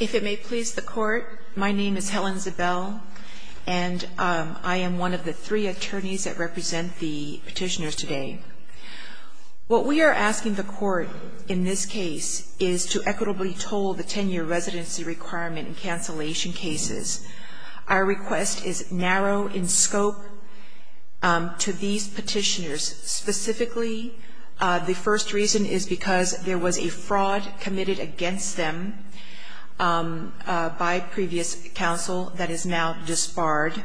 If it may please the Court, my name is Helen Zabel and I am one of the three attorneys that represent the petitioners today. What we are asking the Court in this case is to equitably toll the 10-year residency requirement in cancellation cases. Our request is narrow in scope to these petitioners. Specifically, the first reason is because there was a fraud committed against them by previous counsel that is now disbarred.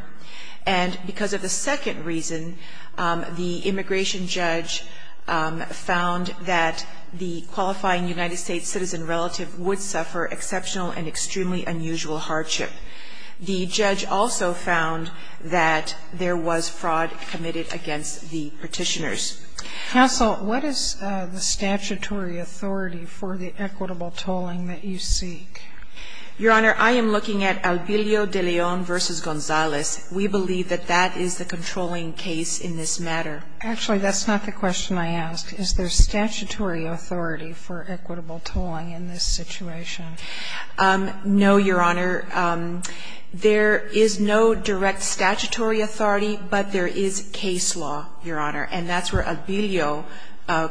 And because of the second reason, the immigration judge found that the qualifying United States citizen relative would suffer exceptional and extremely unusual hardship. The judge also found that there was fraud committed against the petitioners. Counsel, what is the statutory authority for the equitable tolling that you seek? Your Honor, I am looking at Albillo de Leon v. Gonzales. We believe that that is the controlling case in this matter. Actually, that's not the question I asked. Is there statutory authority for equitable tolling in this situation? No, Your Honor. There is no direct statutory authority, but there is case law, Your Honor. And that's where Albillo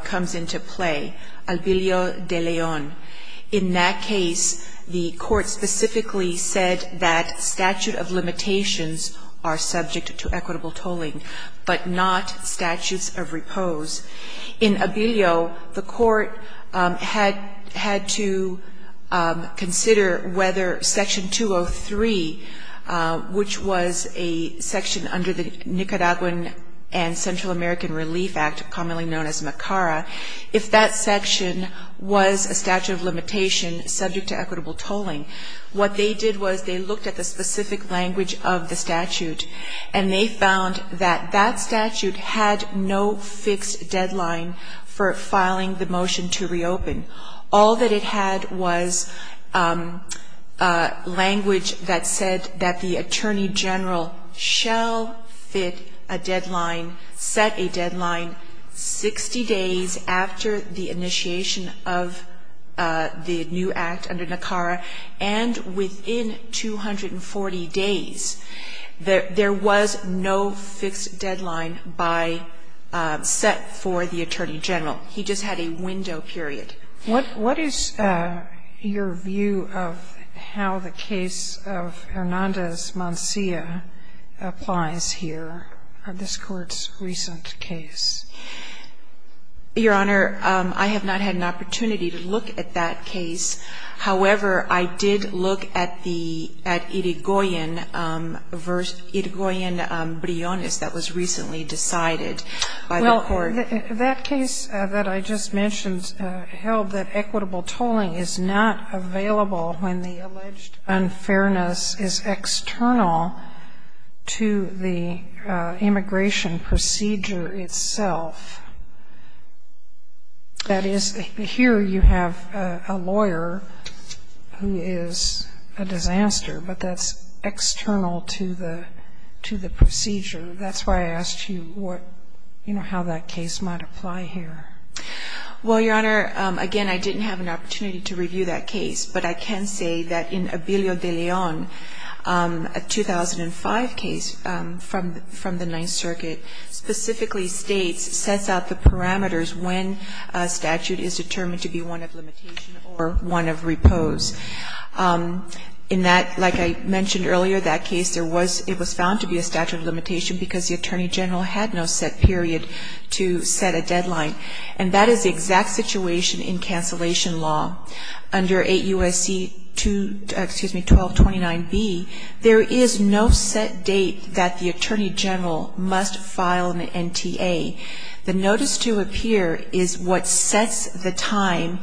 comes into play, Albillo de Leon. In that case, the Court specifically said that statute of limitations are subject to equitable tolling, but not statutes of repose. In Albillo, the Court had to consider whether Section 203, which was a section under the Nicaraguan and Central American Relief Act, commonly known as MACARA, if that section was a statute of limitation subject to equitable tolling. What they did was they looked at the specific language of the statute, and they found that that statute had no fixed deadline for filing the motion to reopen. All that it had was language that said that the attorney general shall fit a deadline, set a deadline 60 days after the initiation of the new act under NICARA, and within 240 days. There was no fixed deadline by set for the attorney general. He just had a window period. What is your view of how the case of Hernandez-Mancia applies here, this Court's recent case? Your Honor, I have not had an opportunity to look at that case. However, I did look at the Irigoyen-Briones that was recently decided by the Court. Well, that case that I just mentioned held that equitable tolling is not available when the alleged unfairness is external to the immigration procedure itself. That is, here you have a lawyer who is a disaster, but that's external to the procedure. That's why I asked you what, you know, how that case might apply here. Well, Your Honor, again, I didn't have an opportunity to review that case. But I can say that in Obilio de Leon, a 2005 case from the Ninth Circuit, specifically states, sets out the parameters when a statute is determined to be one of limitation or one of repose. In that, like I mentioned earlier, that case, it was found to be a statute of limitation because the attorney general had no set period to set a deadline. And that is the exact situation in cancellation law. Under 8 U.S.C. 1229B, there is no set date that the attorney general must file an NTA. The notice to appear is what sets the time,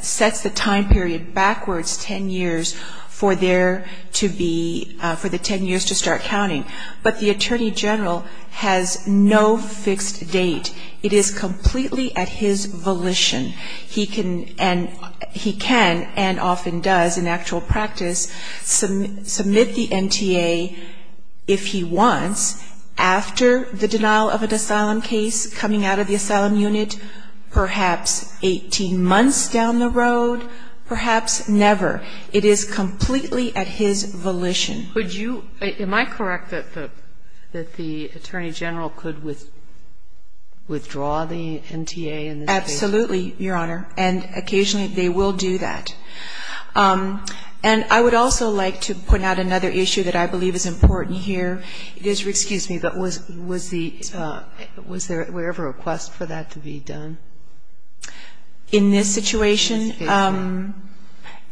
sets the time period backwards ten years for there to be, for the ten years to start counting. But the attorney general has no fixed date. It is completely at his volition. He can and often does in actual practice submit the NTA, if he wants, after the denial of an asylum case coming out of the asylum unit, perhaps 18 months down the road, perhaps never. It is completely at his volition. Am I correct that the attorney general could withdraw the NTA in this case? Absolutely, Your Honor. And occasionally they will do that. And I would also like to point out another issue that I believe is important here. Excuse me, but was there ever a request for that to be done? In this situation,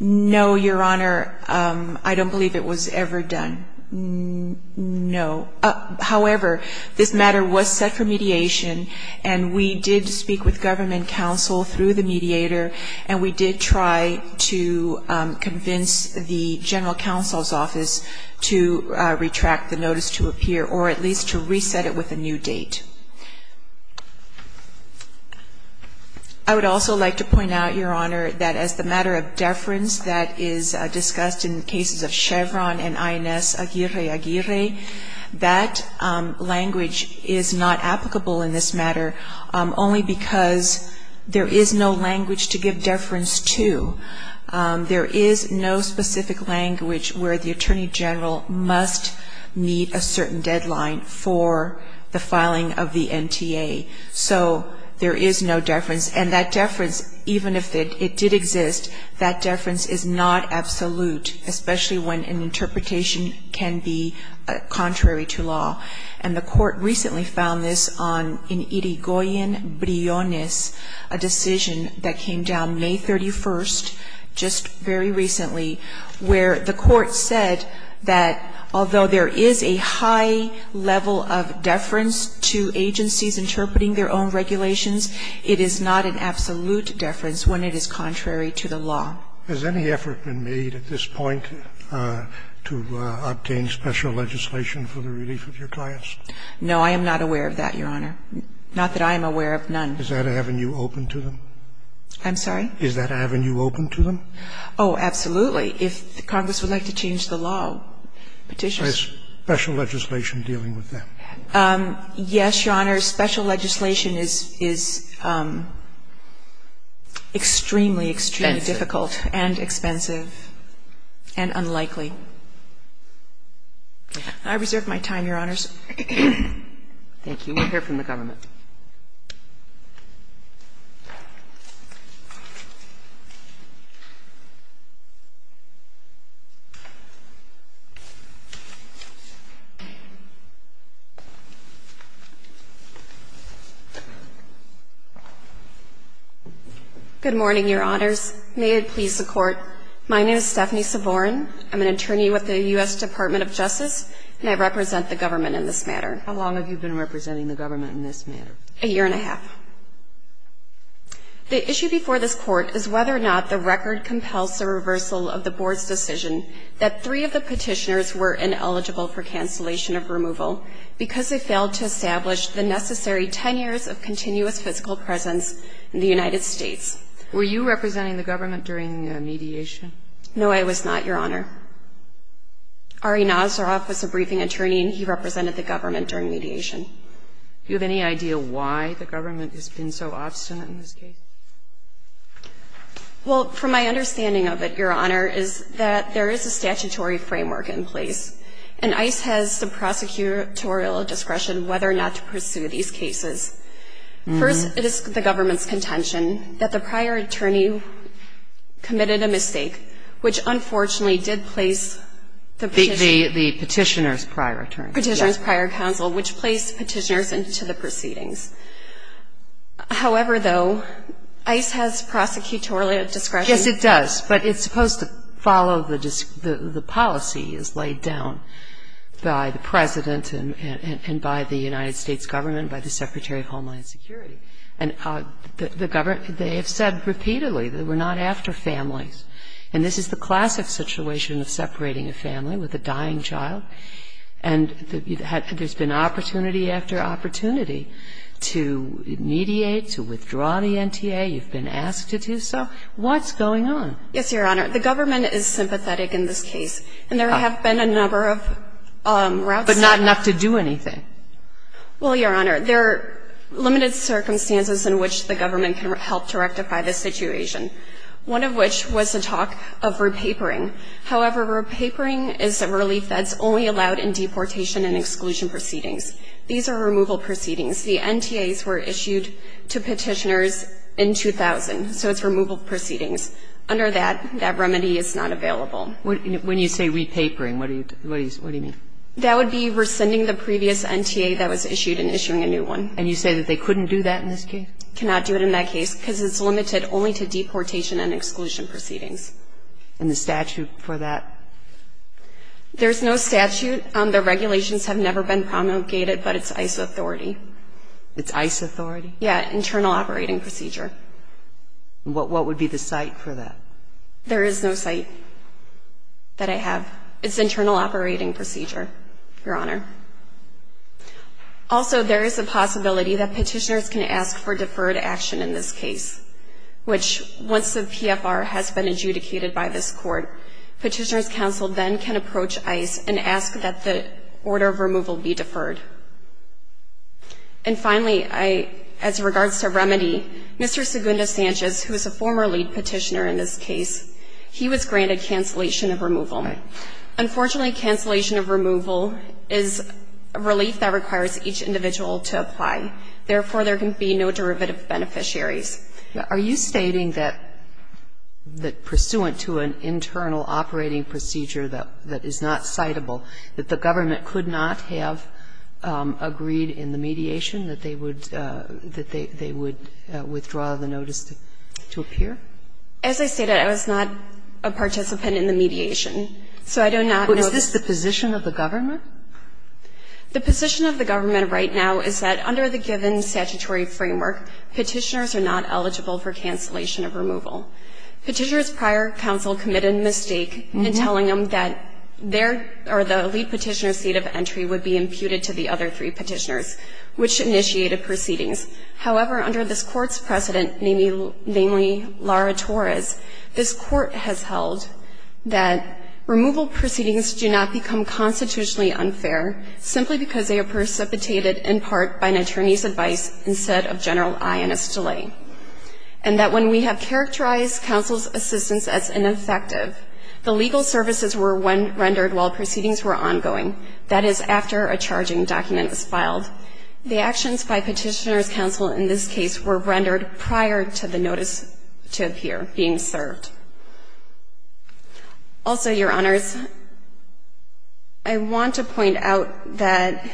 no, Your Honor. I don't believe it was ever done. No. However, this matter was set for mediation, and we did speak with government counsel through the mediator, and we did try to convince the general counsel's office to retract the notice to appear or at least to reset it with a new date. I would also like to point out, Your Honor, that as the matter of deference that is discussed in cases of Chevron and INS Aguirre-Aguirre, that language is not applicable in this matter only because there is no language to give deference to. There is no specific language where the attorney general must meet a certain deadline for the filing of the NTA. So there is no deference. And that deference, even if it did exist, that deference is not absolute, especially when an interpretation can be contrary to law. And the Court recently found this in Yrigoyen-Briones, a decision that came down May 31st, just very recently, where the Court said that although there is a high level of deference to agencies interpreting their own regulations, it is not an absolute deference when it is contrary to the law. Scalia. Has any effort been made at this point to obtain special legislation for the relief of your clients? No, I am not aware of that, Your Honor. Not that I am aware of none. Is that avenue open to them? I'm sorry? Is that avenue open to them? Oh, absolutely. If Congress would like to change the law, petitions. Is special legislation dealing with them? Yes, Your Honor. Special legislation is extremely, extremely difficult and expensive and unlikely. Can I reserve my time, Your Honors? Thank you. We'll hear from the government. Good morning, Your Honors. May it please the Court, my name is Stephanie Savorn. I'm an attorney with the U.S. Department of Justice, and I represent the government in this matter. How long have you been representing the government in this matter? A year and a half. The issue before this Court is whether or not the record compels the reversal of the Board's decision that three of the petitioners were ineligible for cancellation of removal because they failed to establish the necessary 10 years of continuous physical presence in the United States. Were you representing the government during mediation? No, I was not, Your Honor. Ari Nazaroff was a briefing attorney, and he represented the government during mediation. Do you have any idea why the government has been so obstinate in this case? Well, from my understanding of it, Your Honor, is that there is a statutory framework in place, and ICE has some prosecutorial discretion whether or not to pursue these cases. First, it is the government's contention that the prior attorney committed a crime. The petitioner's prior attorney. Petitioner's prior counsel, which placed petitioners into the proceedings. However, though, ICE has prosecutorial discretion. Yes, it does, but it's supposed to follow the policy as laid down by the President and by the United States government, by the Secretary of Homeland Security. And the government, they have said repeatedly that we're not after families. And this is the classic situation of separating a family with a dying child, and there's been opportunity after opportunity to mediate, to withdraw the NTA. You've been asked to do so. What's going on? Yes, Your Honor. The government is sympathetic in this case. And there have been a number of routes. But not enough to do anything. Well, Your Honor, there are limited circumstances in which the government can help to rectify this situation. One of which was the talk of repapering. However, repapering is a relief that's only allowed in deportation and exclusion proceedings. These are removal proceedings. The NTAs were issued to petitioners in 2000, so it's removal proceedings. Under that, that remedy is not available. When you say repapering, what do you mean? That would be rescinding the previous NTA that was issued and issuing a new one. And you say that they couldn't do that in this case? Cannot do it in that case because it's limited only to deportation and exclusion proceedings. And the statute for that? There's no statute. The regulations have never been promulgated, but it's ICE authority. It's ICE authority? Yeah, internal operating procedure. What would be the site for that? There is no site that I have. It's internal operating procedure, Your Honor. Also, there is a possibility that petitioners can ask for deferred action in this case, which once the PFR has been adjudicated by this court, petitioners' counsel then can approach ICE and ask that the order of removal be deferred. And finally, as regards to remedy, Mr. Segunda Sanchez, who is a former lead petitioner in this case, he was granted cancellation of removal. Unfortunately, cancellation of removal is a relief that requires each individual to apply. Therefore, there can be no derivative beneficiaries. Are you stating that pursuant to an internal operating procedure that is not citable, that the government could not have agreed in the mediation that they would withdraw the notice to appear? As I stated, I was not a participant in the mediation. So I do not know that. But is this the position of the government? The position of the government right now is that under the given statutory framework, petitioners are not eligible for cancellation of removal. Petitioners' prior counsel committed a mistake in telling them that their or the lead petitioner's seat of entry would be imputed to the other three petitioners, which initiated proceedings. However, under this Court's precedent, namely Laura Torres, this Court has held that removal proceedings do not become constitutionally unfair simply because they are precipitated in part by an attorney's advice instead of general ionist delay, and that when we have characterized counsel's assistance as ineffective, the legal services were rendered while proceedings were ongoing, that is, after a charging document was filed. The actions by petitioners' counsel in this case were rendered prior to the notice to appear being served. Also, Your Honors, I want to point out that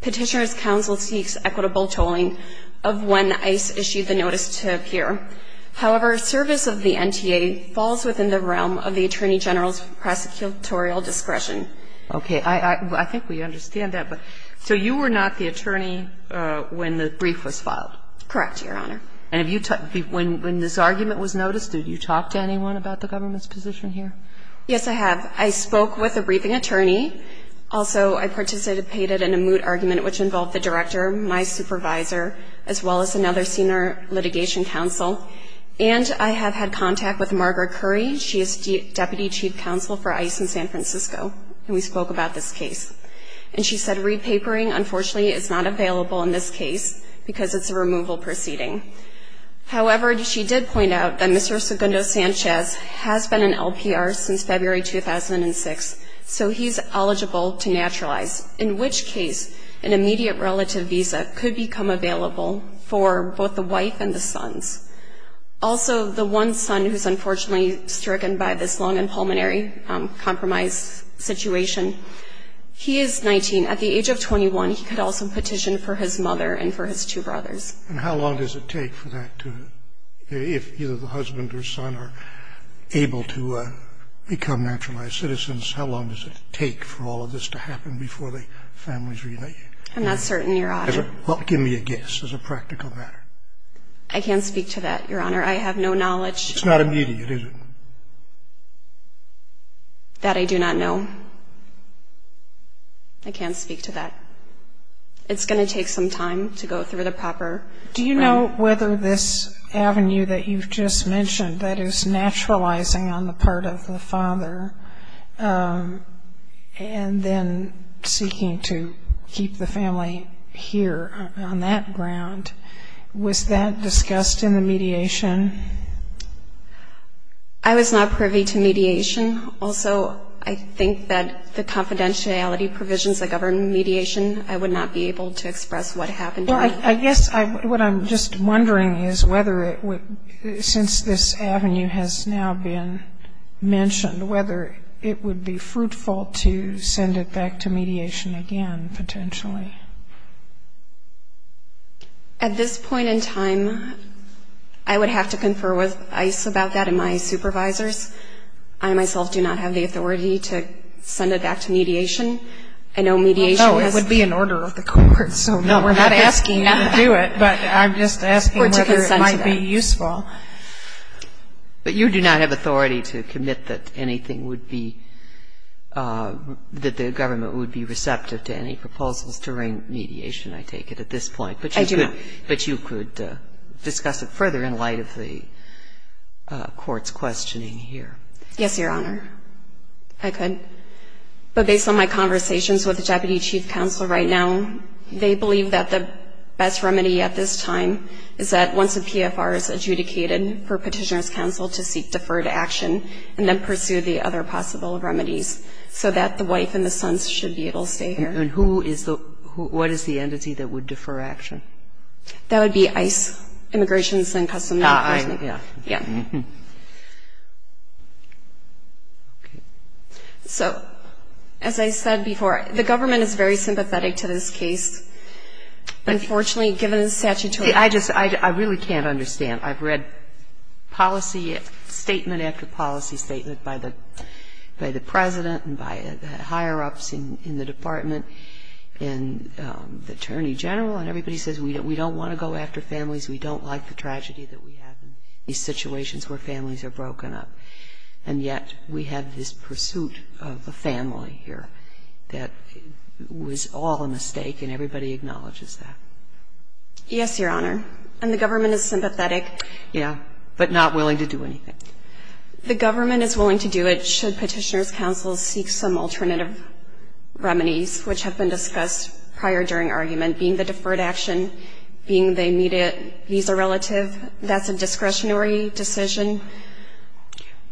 petitioners' counsel seeks equitable tolling of when ICE issued the notice to appear. However, service of the NTA falls within the realm of the attorney general's prosecutorial discretion. Okay. I think we understand that. So you were not the attorney when the brief was filed? Correct, Your Honor. And when this argument was noticed, did you talk to anyone about the government's position here? Yes, I have. I spoke with the briefing attorney. Also, I participated in a moot argument which involved the director, my supervisor, as well as another senior litigation counsel. And I have had contact with Margaret Curry. She is deputy chief counsel for ICE in San Francisco. And we spoke about this case. And she said re-papering, unfortunately, is not available in this case because it's a removal proceeding. However, she did point out that Mr. Segundo Sanchez has been in LPR since February 2006, so he's eligible to naturalize, in which case an immediate relative visa could become available for both the wife and the sons. Also, the one son who's unfortunately stricken by this lung and pulmonary compromise situation, he is 19. At the age of 21, he could also petition for his mother and for his two brothers. And how long does it take for that to, if either the husband or son are able to become naturalized citizens, how long does it take for all of this to happen before the families reunite? I'm not certain, Your Honor. Well, give me a guess as a practical matter. I can't speak to that, Your Honor. I have no knowledge. It's not immediate, is it? That I do not know. I can't speak to that. It's going to take some time to go through the proper... Do you know whether this avenue that you've just mentioned, that is naturalizing on the part of the father and then seeking to keep the family here on that ground, was that discussed in the mediation? I was not privy to mediation. Also, I think that the confidentiality provisions that govern mediation, I would not be able to express what happened. Well, I guess what I'm just wondering is whether it would, since this avenue has now been mentioned, whether it would be fruitful to send it back to mediation again, potentially. At this point in time, I would have to confer with ICE about that and my supervisors. I myself do not have the authority to send it back to mediation. I know mediation has... No, it would be an order of the court, so we're not asking you to do it, but I'm just asking whether it might be useful. But you do not have authority to commit that anything would be, that the government would be receptive to any proposals to ring mediation, I take it, at this point. I do not. But you could discuss it further in light of the court's questioning here. Yes, Your Honor, I could. But based on my conversations with the Deputy Chief Counsel right now, they believe that the best remedy at this time is that once the PFR is adjudicated for Petitioner's Counsel to seek deferred action and then pursue the other possible remedies so that the wife and the sons should be able to stay here. And who is the, what is the entity that would defer action? That would be ICE, Immigration and Customs Enforcement. Ah, yeah. Yeah. So, as I said before, the government is very sympathetic to this case. Unfortunately, given the statutory... I just, I really can't understand. I've read policy statement after policy statement by the President and by the higher ups in the Department and the Attorney General, and everybody says, we don't want to go after families, we don't like the tragedy that we have in these situations where families are broken up. And yet we have this pursuit of a family here that was all a mistake, and everybody acknowledges that. Yes, Your Honor. And the government is sympathetic. Yeah. But not willing to do anything. The government is willing to do it should Petitioner's Counsel seek some alternative remedies, which have been discussed prior during argument, being the deferred action, being the immediate visa relative. That's a discretionary decision.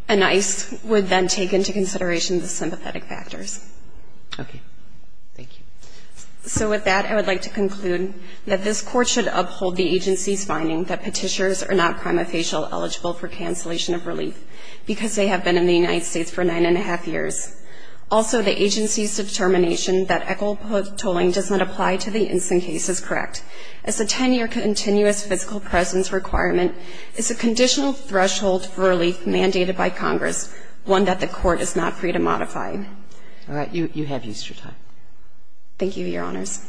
And ICE would then take into consideration the sympathetic factors. Okay. Thank you. So with that, I would like to conclude that this Court should uphold the agency's finding that Petitioners are not prima facie eligible for cancellation of relief because they have been in the United States for nine and a half years. Also, the agency's determination that equitable tolling does not apply to the instant case is correct. As a 10-year continuous physical presence requirement is a conditional threshold for relief mandated by Congress, one that the Court is not free to modify. All right. You have Easter time. Thank you, Your Honors.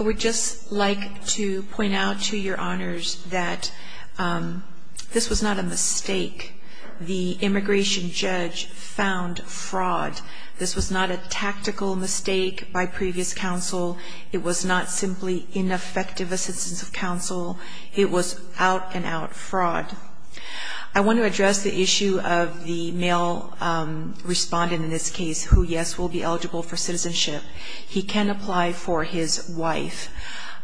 I would just like to point out to Your Honors that this was not a mistake. The immigration judge found fraud. This was not a tactical mistake by previous counsel. It was not simply ineffective assistance of counsel. It was out-and-out fraud. I want to address the issue of the male respondent in this case who, yes, will be eligible for citizenship. He can apply for his wife.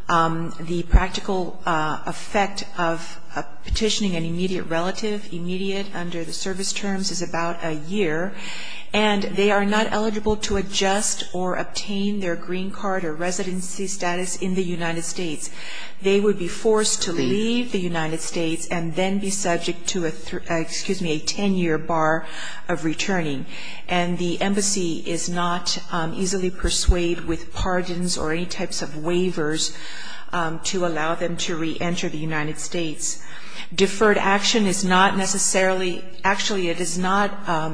The practical effect of petitioning an immediate relative, immediate under the service terms, is about a year. And they are not eligible to adjust or obtain their green card or residency status in the United States. They would be forced to leave the United States and then be subject to a 10-year bar of returning. And the embassy is not easily persuaded with pardons or any types of waivers to allow them to reenter the United States. Deferred action is not necessarily, actually, it is not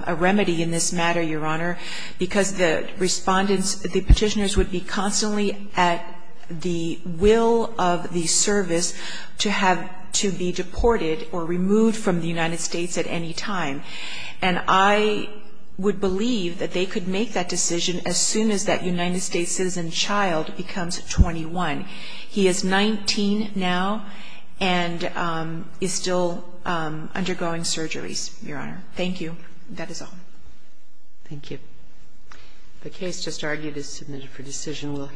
a remedy in this matter, Your Honor, because the respondents, the petitioners would be constantly at the will of the service to have to be deported or removed from the United States at any time. And I would believe that they could make that decision as soon as that United States citizen child becomes 21. He is 19 now and is still undergoing surgeries, Your Honor. Thank you. That is all. Thank you. The case just argued is submitted for decision.